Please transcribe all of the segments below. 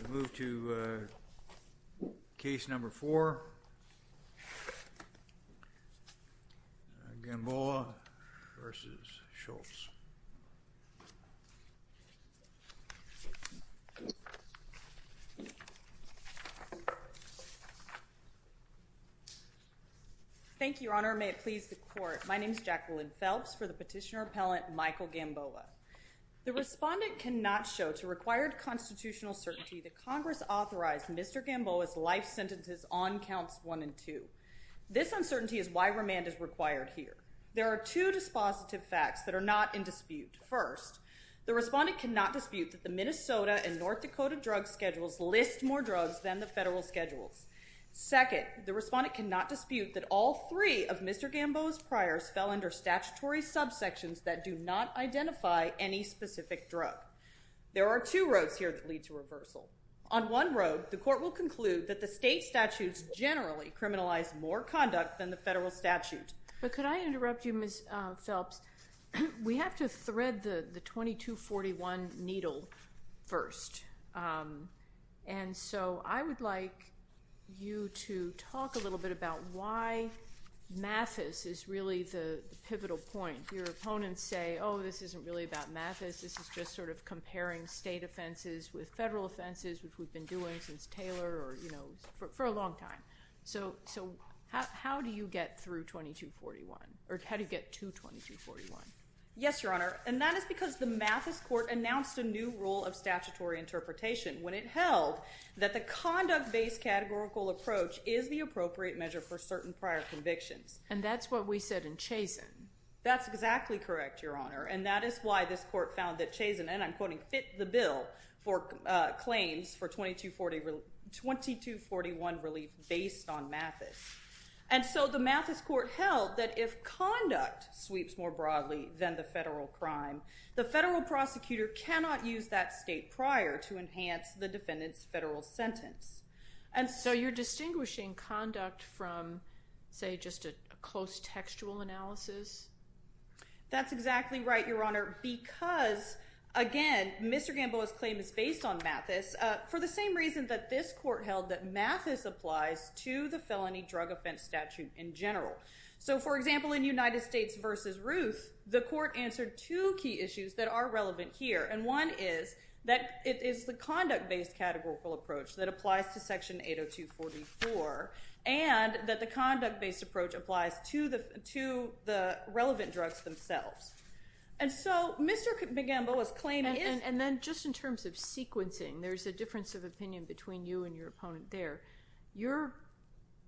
Thank you, Your Honor. May it please the Court, my name is Jacqueline Phelps for the Petitioner Appellant Michael Gamboa. The Respondent cannot show to required constitutional certainty that Congress authorized Mr. Gamboa's life sentences on Counts 1 and 2. This uncertainty is why remand is required here. There are two dispositive facts that are not in dispute. First, the Respondent cannot dispute that the Minnesota and North Dakota drug schedules list more drugs than the federal schedules. Second, the Respondent cannot dispute that all three of Mr. Gamboa's priors fell under statutory subsections that do not identify any specific drug. There are two roads here that lead to reversal. On one road, the Court will conclude that the state statutes generally criminalize more conduct than the federal statute. But could I interrupt you, Ms. Phelps? We have to thread the 2241 needle first. And so I would like you to talk a little bit about why MAFIS is really the pivotal point. Your question is about MAFIS. This is just sort of comparing state offenses with federal offenses, which we've been doing since Taylor or, you know, for a long time. So how do you get through 2241 or how do you get to 2241? Yes, Your Honor. And that is because the MAFIS Court announced a new rule of statutory interpretation when it held that the conduct-based categorical approach is the appropriate measure for certain prior convictions. And that's what we said in Chazen. That's exactly correct, Your Honor. And that is why this Court found that Chazen, and I'm quoting, fit the bill for claims for 2241 relief based on MAFIS. And so the MAFIS Court held that if conduct sweeps more broadly than the federal crime, the federal prosecutor cannot use that state prior to enhance the defendant's federal sentence. And so you're distinguishing conduct from, say, just a close textual analysis? That's exactly right, Your Honor, because, again, Mr. Gamboa's claim is based on MAFIS for the same reason that this Court held that MAFIS applies to the felony drug offense statute in general. So, for example, in United States v. Ruth, the Court answered two key issues that are relevant here. And one is that it is the conduct-based categorical approach that applies to Section 802.44, and that the conduct-based approach applies to the relevant drugs themselves. And so Mr. Gamboa's claim is— And then just in terms of sequencing, there's a difference of opinion between you and your opponent there. Your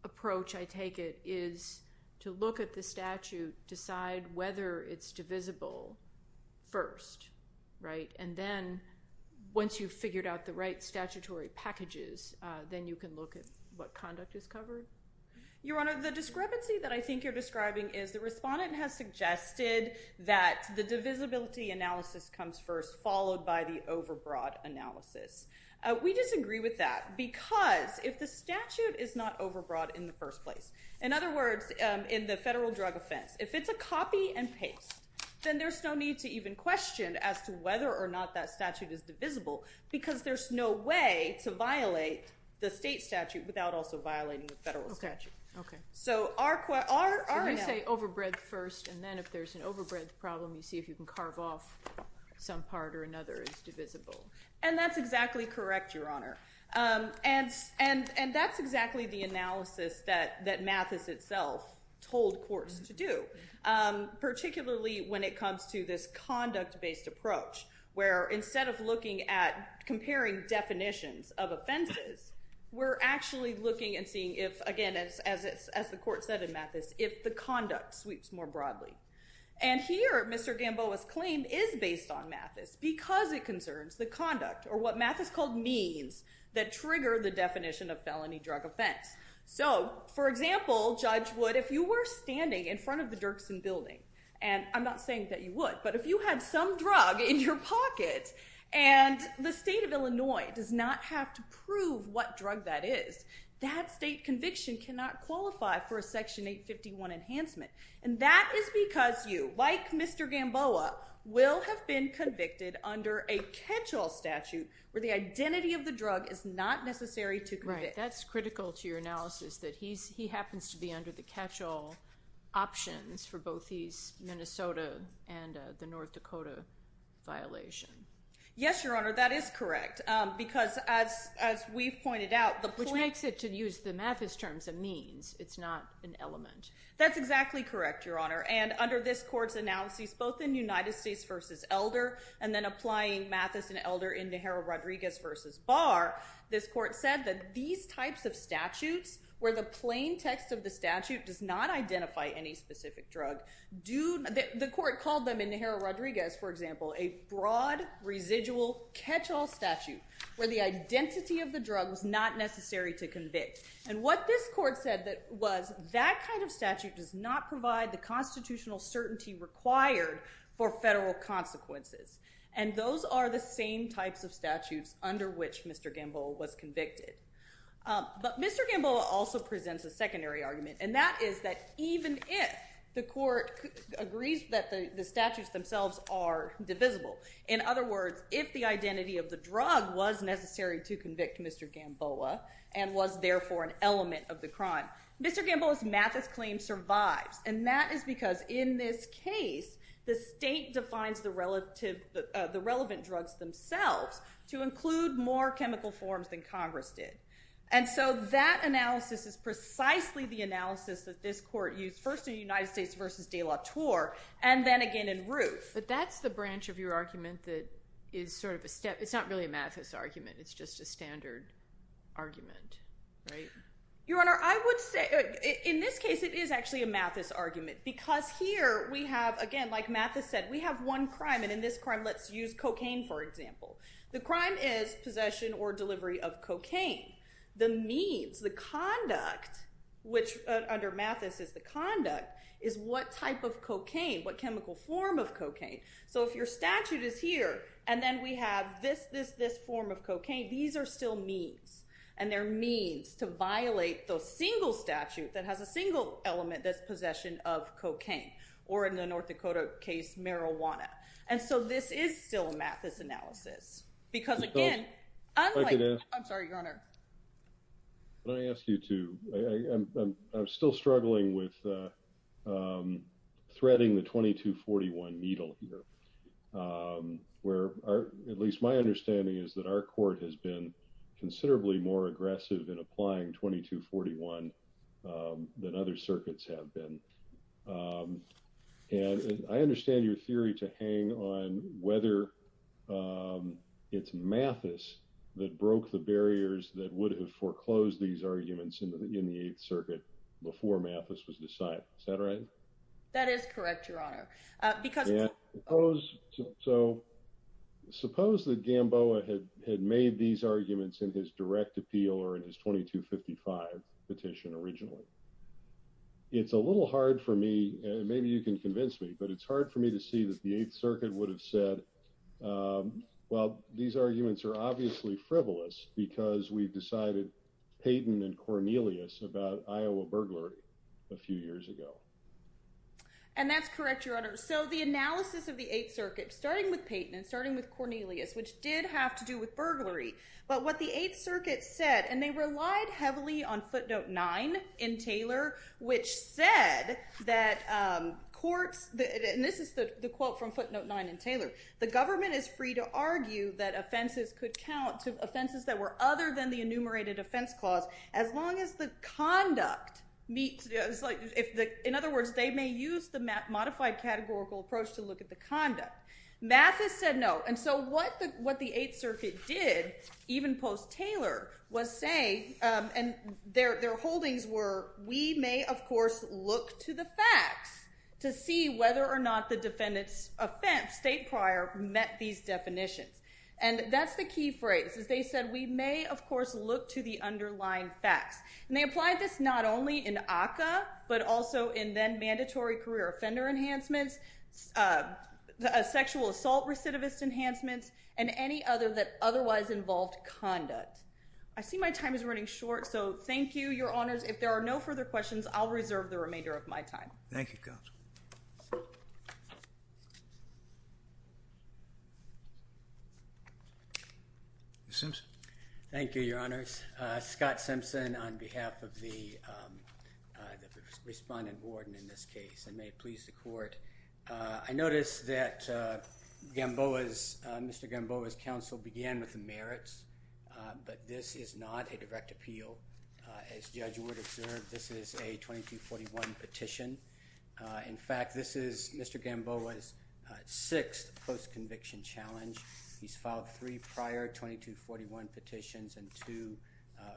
approach, I take it, is to look at the statute, decide whether it's divisible first, right? And then, once you've figured out the right statutory packages, then you can look at what conduct is covered? Your Honor, the discrepancy that I think you're describing is the respondent has suggested that the divisibility analysis comes first followed by the overbroad analysis. We disagree with that because if the statute is not overbroad in the first place—in other words, in the federal drug offense, if it's a copy and paste, then there's no need to even question as to whether or not that statute is divisible because there's no way to violate the state statute without also violating the federal statute. Okay, okay. So our— You're going to say overbreadth first, and then if there's an overbreadth problem, you see if you can carve off some part or another that's divisible. And that's exactly correct, Your Honor. And that's exactly the analysis that Mathis itself told courts to do, particularly when it comes to this conduct-based approach, where instead of looking at comparing definitions of offenses, we're actually looking and seeing if, again, as the court said in Mathis, if the conduct sweeps more broadly. And here, Mr. Gamboa's argument is based on Mathis because it concerns the conduct, or what Mathis called means, that trigger the definition of felony drug offense. So for example, Judge Wood, if you were standing in front of the Dirksen Building—and I'm not saying that you would, but if you had some drug in your pocket, and the state of Illinois does not have to prove what drug that is, that state conviction cannot qualify for a Section 851 enhancement. And that is because you, like Mr. Gamboa, will have been convicted under a catch-all statute, where the identity of the drug is not necessary to convict. Right. That's critical to your analysis, that he happens to be under the catch-all options for both his Minnesota and the North Dakota violation. Yes, Your Honor, that is correct. Because as we've pointed out, the point— That's exactly correct, Your Honor. And under this Court's analysis, both in United States v. Elder, and then applying Mathis and Elder in Najera-Rodriguez v. Barr, this Court said that these types of statutes, where the plain text of the statute does not identify any specific drug, do—the Court called them, in Najera-Rodriguez, for example, a broad residual catch-all statute, where the identity of the drug was not necessary to convict. And what this Court said was, that kind of statute does not provide the constitutional certainty required for federal consequences. And those are the same types of statutes under which Mr. Gamboa was convicted. But Mr. Gamboa also presents a secondary argument, and that is that even if the Court agrees that the statutes themselves are divisible—in other words, if the identity of the drug was necessary to convict Mr. Gamboa, and was therefore an element of the crime—Mr. Gamboa's Mathis claim survives. And that is because, in this case, the state defines the relevant drugs themselves to include more chemical forms than Congress did. And so that analysis is precisely the analysis that this Court used, first in United States v. De La Torre, and then again in Roof. But that's the branch of your argument that is sort of a step—it's not really a Mathis argument, it's just a standard argument, right? Your Honor, I would say—in this case, it is actually a Mathis argument, because here we have, again, like Mathis said, we have one crime, and in this crime, let's use cocaine, for example. The crime is possession or delivery of cocaine. The means, the conduct, which is the crime of possession of cocaine. So if your statute is here, and then we have this, this, this form of cocaine, these are still means, and they're means to violate the single statute that has a single element that's possession of cocaine, or in the North Dakota case, marijuana. And so this is still a Mathis analysis, because again, unlike— I'm sorry, Your Honor. Can I ask you to—I'm still struggling with threading the 2241 needle here, where at least my understanding is that our court has been considerably more aggressive in applying 2241 than other circuits have been. And I understand your theory to hang on whether it's Mathis that broke the barriers that would have foreclosed these arguments in the Eighth Circuit before Mathis was decided. Is that right? That is correct, Your Honor. Because— So suppose that Gamboa had made these arguments in his direct appeal or in his 2255 petition originally. It's a little hard for me—maybe you can convince me—but it's hard for me to see that the Eighth Circuit would have said, well, these arguments are obviously frivolous because we've decided Payton and Cornelius about Iowa burglary a few years ago. And that's correct, Your Honor. So the analysis of the Eighth Circuit, starting with Payton and starting with Cornelius, which did have to do with burglary, but what the Eighth Circuit said—and they relied heavily on Footnote 9 in Taylor, which said that courts—and this is the quote from Footnote 9 in Taylor—the government is free to argue that offenses could count to offenses that were other than the enumerated offense clause as long as the conduct meets—in other words, they may use the modified categorical approach to look at the conduct. Mathis said no. And so what the Eighth Circuit did, even post-Taylor, was say—and their holdings were, we may, of course, look to the facts to see whether or not the defendant's offense, state prior, met these definitions. And that's the key phrase, is they said, we may, of course, look to the underlying facts. And they applied this not only in ACCA, but also in then-mandatory career offender enhancements, sexual assault recidivist enhancements, and any other that otherwise involved conduct. I see my time is running short, so thank you, Your Honors. If there are no further questions, I'll reserve the remainder of my time. Thank you, Counsel. Mr. Simpson. Thank you, Your Honors. Scott Simpson on behalf of the respondent warden in this case, and may it please the Court. I noticed that Mr. Gamboa's counsel began with the merits, but this is not a direct 2241 petition. In fact, this is Mr. Gamboa's sixth post-conviction challenge. He's filed three prior 2241 petitions and two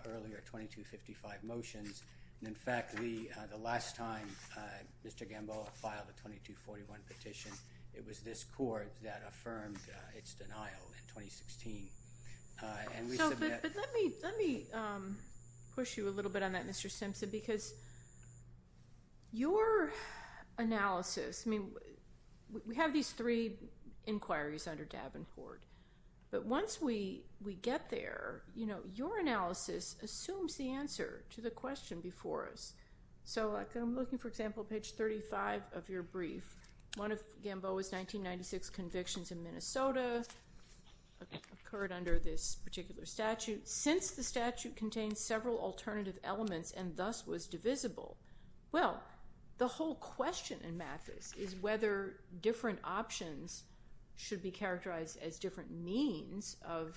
earlier 2255 motions. In fact, the last time Mr. Gamboa filed a 2241 petition, it was this Court that affirmed its denial in 2016. And we submit— But let me push you a little bit on that, Mr. Simpson, because your analysis—I mean, we have these three inquiries under Davenport. But once we get there, you know, your analysis assumes the answer to the question before us. So, like, I'm looking, for example, page 35 of your brief. One of Gamboa's 1996 convictions in Minnesota occurred under this particular statute, since the statute contains several alternative elements and thus was divisible. Well, the whole question in Mathis is whether different options should be characterized as different means of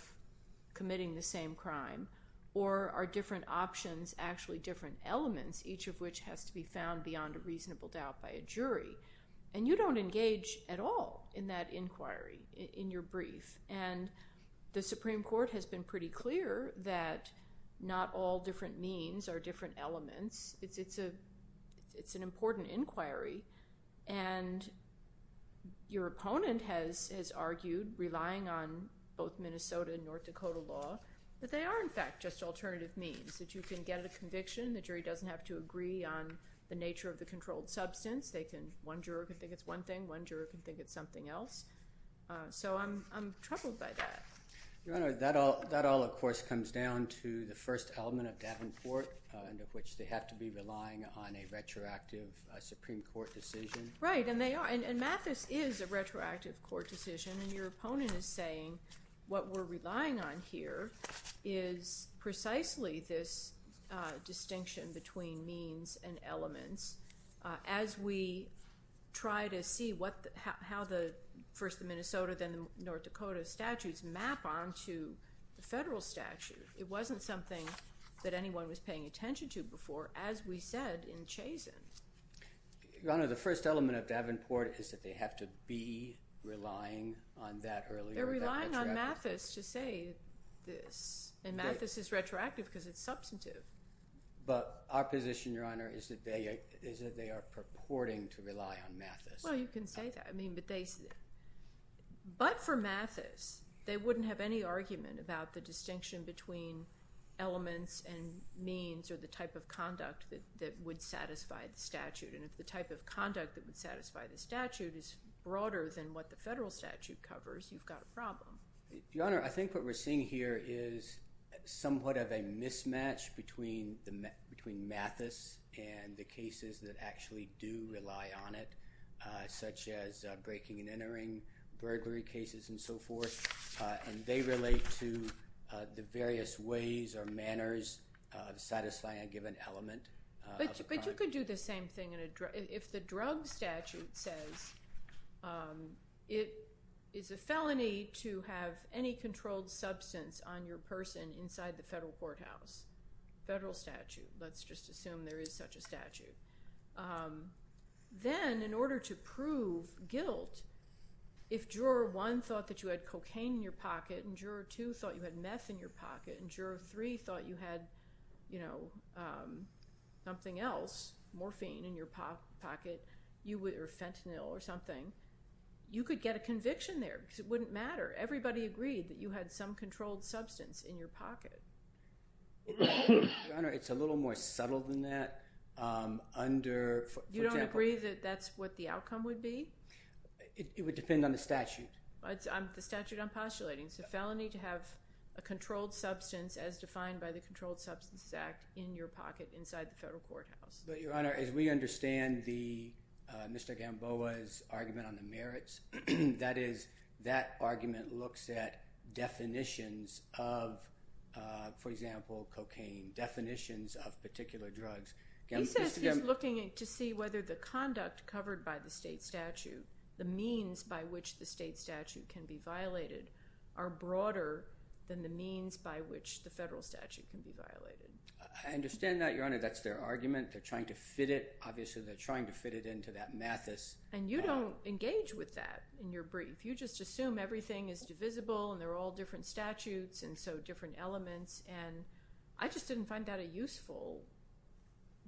committing the same crime, or are different options actually different elements, each of which has to be found beyond a reasonable doubt by a jury. And you don't pretty clear that not all different means are different elements. It's an important inquiry, and your opponent has argued, relying on both Minnesota and North Dakota law, that they are, in fact, just alternative means, that you can get a conviction. The jury doesn't have to agree on the nature of the controlled substance. One juror can think it's one thing. One juror can think it's else. So I'm troubled by that. Your Honor, that all, of course, comes down to the first element of Davenport, under which they have to be relying on a retroactive Supreme Court decision. Right, and they are. And Mathis is a retroactive court decision, and your opponent is saying, what we're relying on here is precisely this distinction between means and elements. As we try to see what, how the, first the Minnesota, then the North Dakota statutes, map onto the federal statute. It wasn't something that anyone was paying attention to before, as we said in Chazen. Your Honor, the first element of Davenport is that they have to be relying on that earlier. They're relying on Mathis to say this, and Mathis is retroactive because it's substantive. But our purporting to rely on Mathis. Well, you can say that. I mean, but they, but for Mathis, they wouldn't have any argument about the distinction between elements and means or the type of conduct that would satisfy the statute. And if the type of conduct that would satisfy the statute is broader than what the federal statute covers, you've got a problem. Your Honor, I think what we're seeing here is somewhat of a mismatch between the, between Mathis and the cases that actually do rely on it, such as breaking and entering burglary cases and so forth. And they relate to the various ways or manners of satisfying a given element. But you could do the same thing in a drug, if the drug statute says it is a felony to have any controlled substance on your person inside the federal courthouse. Federal statute, let's just assume there is such a statute. Then, in order to prove guilt, if Juror 1 thought that you had cocaine in your pocket and Juror 2 thought you had meth in your pocket and Juror 3 thought you had, you know, something else, morphine in your pocket, or fentanyl or something, you could get a conviction there because it wouldn't matter. Everybody agreed that you had some controlled substance in your pocket. Your Honor, it's a little more subtle than that under, for example. You don't agree that that's what the outcome would be? It would depend on the statute. The statute I'm postulating. It's a felony to have a controlled substance, as defined by the Controlled Substances Act, in your pocket inside the federal courthouse. But Your Honor, as we look at Gamboa's argument on the merits, that is, that argument looks at definitions of, for example, cocaine. Definitions of particular drugs. He says he's looking to see whether the conduct covered by the state statute, the means by which the state statute can be violated, are broader than the means by which the federal statute can be violated. I understand that, Your Honor. That's their argument. They're trying to fit it. Obviously, they're trying to fit it into that And you don't engage with that in your brief. You just assume everything is divisible and they're all different statutes and so different elements. And I just didn't find that a useful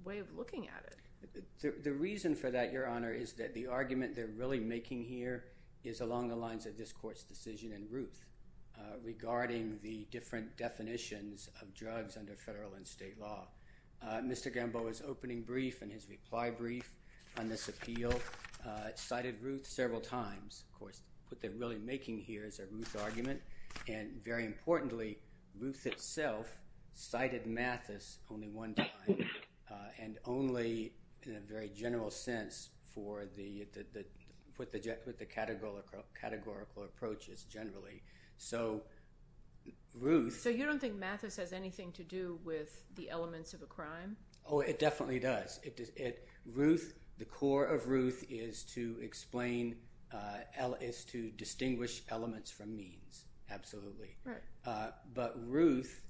way of looking at it. The reason for that, Your Honor, is that the argument they're really making here is along the lines of this court's decision in Ruth regarding the different definitions of drugs under federal and state law. Mr. Gamboa's opening brief and his reply brief on this appeal cited Ruth several times. Of course, what they're really making here is a Ruth argument. And very importantly, Ruth itself cited Mathis only one time and only in a very general sense for the categorical approaches generally. So, Ruth... So you don't think Mathis has anything to do with the elements of a crime? Oh, it definitely does. The core of Ruth is to distinguish elements from means. Absolutely. But Ruth,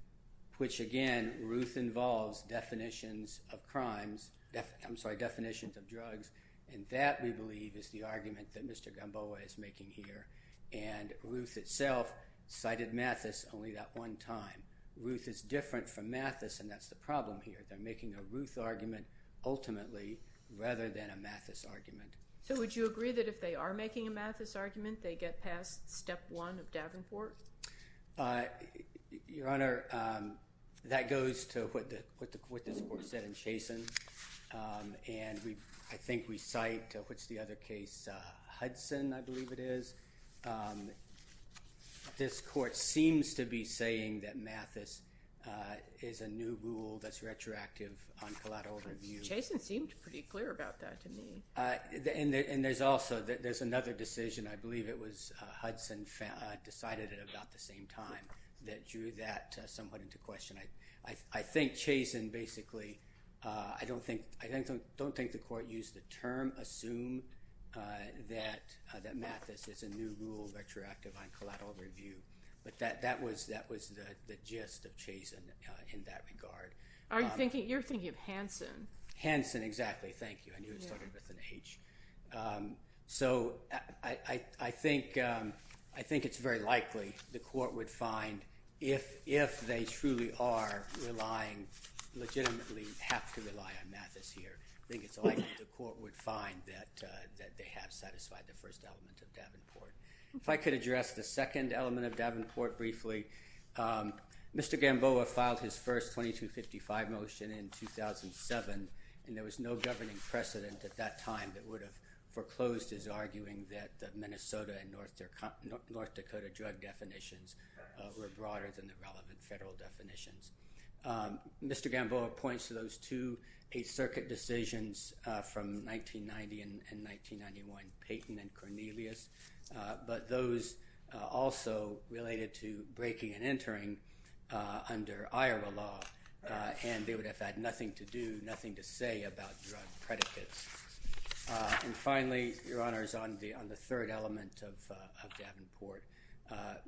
which again, Ruth involves definitions of crimes, I'm sorry, definitions of drugs, and that we believe is the argument that Mr. Gamboa is making here. And Ruth itself cited Mathis only that one time. Ruth is different from Mathis and that's the problem here. They're making a Ruth argument ultimately rather than a Mathis argument. So would you agree that if they are making a Mathis argument, they get past step one of Davenport? Your Honor, that goes to what this court said in Chaston. And I think we cite what's the other case, Hudson, I believe it is. This court seems to be saying that Mathis is a new rule that's retroactive on collateral review. Chaston seemed pretty clear about that to me. And there's also, there's another decision, I believe it was Hudson decided it about the same time, that drew that somewhat into question. I don't think the court used the term assume that Mathis is a new rule retroactive on collateral review. But that was the gist of Chaston in that regard. You're thinking of Hansen. Hansen, exactly. Thank you. I knew it started with an H. So I think it's very likely the court would find, if they truly are relying, legitimately have to rely on Mathis here, I think it's likely the court would find that they have satisfied the first element of Davenport. If I could address the second element of Davenport briefly. Mr. Gamboa filed his first 2255 motion in 2007, and there was no governing precedent at that time that would have foreclosed his arguing that Mr. Gamboa points to those two Eighth Circuit decisions from 1990 and 1991, Payton and Cornelius. But those also related to breaking and entering under IRA law, and they would have had nothing to do, nothing to say about drug predicates. And finally, Your Honor, on the third element of Davenport,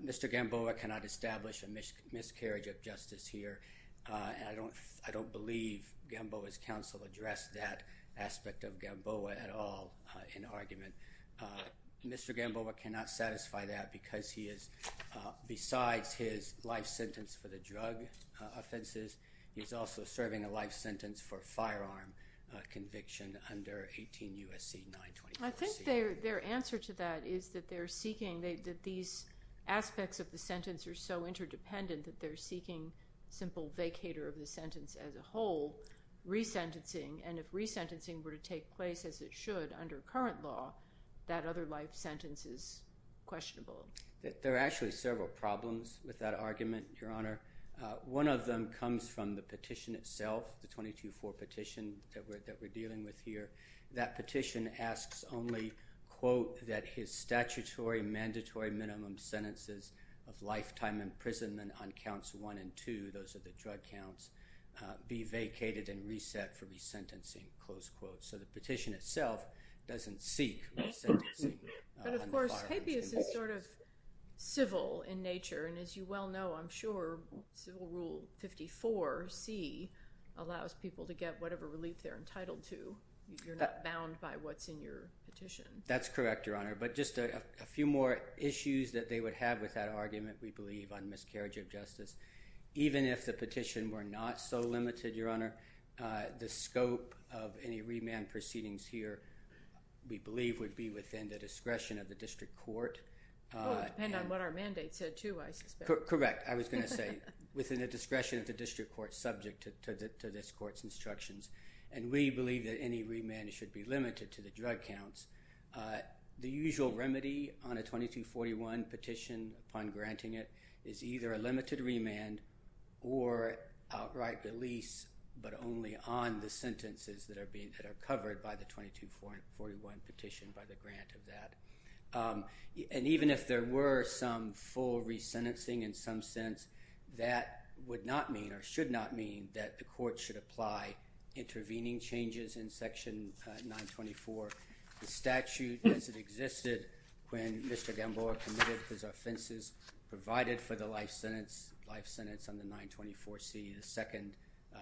Mr. Gamboa cannot establish a miscarriage of justice here. I don't believe Gamboa's counsel addressed that aspect of Gamboa at all in argument. Mr. Gamboa cannot satisfy that because he is, besides his life sentence for the drug I think their answer to that is that they're seeking, that these aspects of the sentence are so interdependent that they're seeking simple vacator of the sentence as a whole, resentencing. And if resentencing were to take place as it should under current law, that other life sentence is questionable. There are actually several problems with that argument, Your Honor. One of them comes from the petition itself, the 22-4 petition that we're dealing with here. That petition asks only, quote, that his statutory mandatory minimum sentences of lifetime imprisonment on counts one and two, those are the drug counts, be vacated and reset for resentencing, close quote. So the petition itself doesn't seek resentencing. But of course, habeas is sort of civil in nature. And as you well know, I'm sure Civil Rule 54C allows people to get whatever relief they're entitled to. You're not bound by what's in your petition. That's correct, Your Honor. But just a few more issues that they would have with that argument, we believe, on miscarriage of justice. Even if the petition were not so limited, Your Honor, the scope of any remand proceedings here, we believe, would be within the discretion of the district court. Well, it would depend on what our mandate said too, I suspect. Correct. I was going to say, within the discretion of the district court subject to this court's instructions. And we believe that any remand should be limited to the drug counts. The usual remedy on a 22-41 petition upon granting it is either a limited remand or outright release, but only on the sentences that are being covered by the 22-41 petition by the grant of that. And even if there were some full resentencing in some sense, that would not mean, or should not mean, that the court should apply intervening changes in Section 924. The statute as it existed when Mr. Gamboa committed his offenses provided for the life sentence on the 924C, the second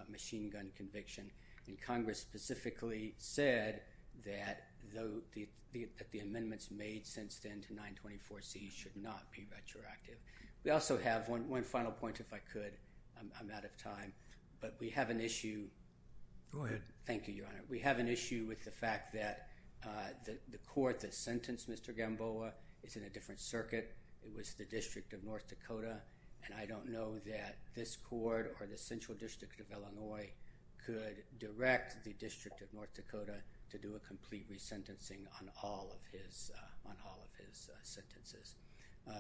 machine gun conviction. And Congress specifically said that the amendments made since then to 924C should not be retroactive. We also have one final point, if I could. I'm out of time. But we have an issue. Go ahead. Thank you, Your Honor. We have an issue with the fact that the court that sentenced Mr. Gamboa is in a different circuit. It was the District of North Dakota. And I don't know that this court or the Central District of Illinois could direct the District of North Dakota to do a complete resentencing on all of his on all of his sentences.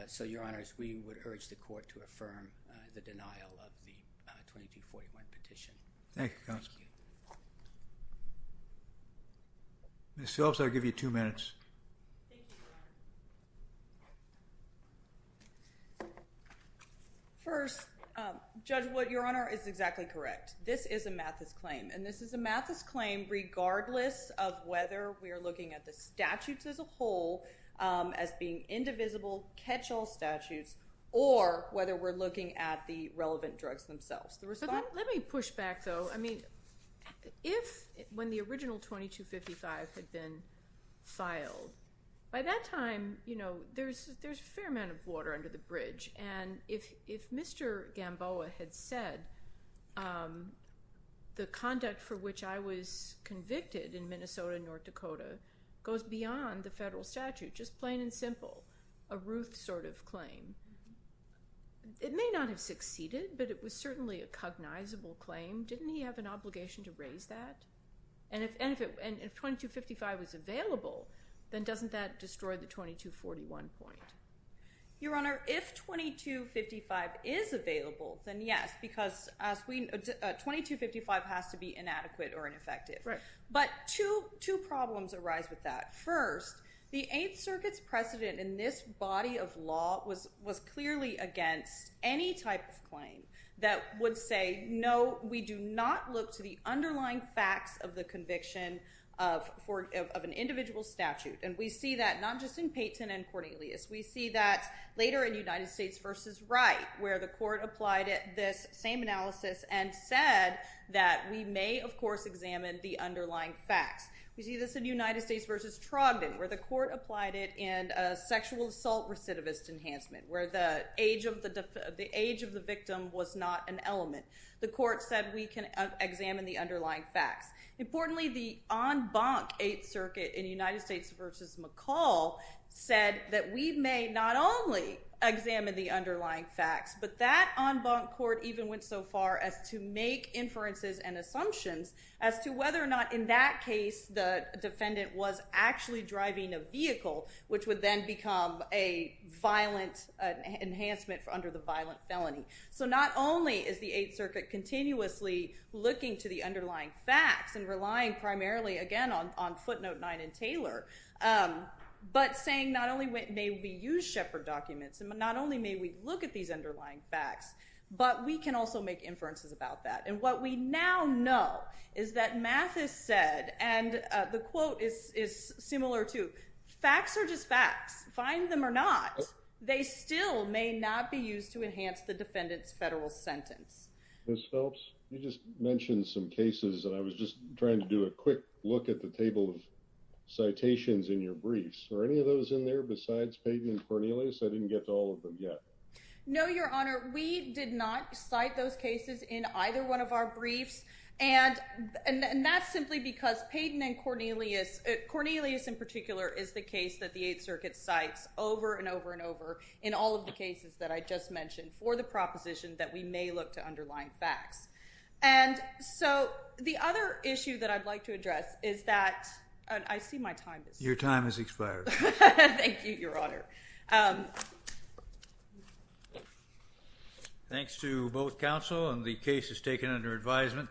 So, Your Honors, we would urge the court to affirm the denial of the 22-41 petition. Thank you, Counselor. Ms. Phillips, I'll give you two minutes. First, Judge Wood, Your Honor, is exactly correct. This is a Mathis claim. And this is a Mathis claim regardless of whether we are looking at the statutes as a whole as being indivisible, catch-all statutes, or whether we're looking at the relevant drugs themselves. Let me push back, though. I mean, if when the original 2255 had been filed, by that time, you know, there's a fair amount of water under the bridge. And if if Mr. Gamboa had said, the conduct for which I was convicted in Minnesota and North Dakota goes beyond the federal statute, just plain and simple, a Ruth sort of claim, it may not have succeeded, but it was certainly a cognizable claim. Didn't he have an obligation to raise that? And if 2255 was available, then doesn't that destroy the 2241 point? Your Honor, if 2255 is available, then yes, because 2255 has to be inadequate or ineffective. But two problems arise with that. First, the Eighth Circuit's precedent in this body of law was clearly against any type of claim that would say, no, we do not look to the underlying facts of the conviction of an individual statute. And we see that not just in Peyton and Cornelius. We see that later in United States v. Wright, where the court applied this same analysis and said that we may, of course, examine the underlying facts. We see this in United States v. Trogdon, where the court applied it in a sexual assault recidivist enhancement, where the age of the victim was not an element. The court said we can examine the underlying facts. Importantly, the en banc Eighth Circuit in United States v. McCall said that we may not only examine the underlying facts, but that en banc court even went so far as to make inferences and assumptions as to whether or not, in that case, the defendant was actually driving a vehicle, which would then become a violent enhancement under the violent felony. So not only is the Eighth Circuit continuously looking to the underlying facts and relying primarily, again, on footnote 9 in Taylor, but saying not only may we use Shepard documents and not only may we look at these underlying facts, but we can also make inferences about that. And what we now know is that Mathis said, and the quote is similar to, facts are just facts. Find them or not, they still may not be used to enhance the defendant's federal sentence. Ms. Phelps, you just mentioned some cases, and I was just trying to do a quick look at the table of citations in your briefs. Are any of those in there besides Pagan and Cornelius? I didn't get to all of them yet. No, Your Honor, we did not cite those cases in either one of our briefs, and that's simply because Pagan and Cornelius, Cornelius in particular, is the case that the Eighth Circuit cites over and over and over in all of the cases that I just mentioned for the proposition that we may look to underlying facts. And so the other issue that I'd like to address is that, and I see my time is up. Your time has expired. Thank you, Your Honor. Thanks to both counsel, and the case is taken under advisement.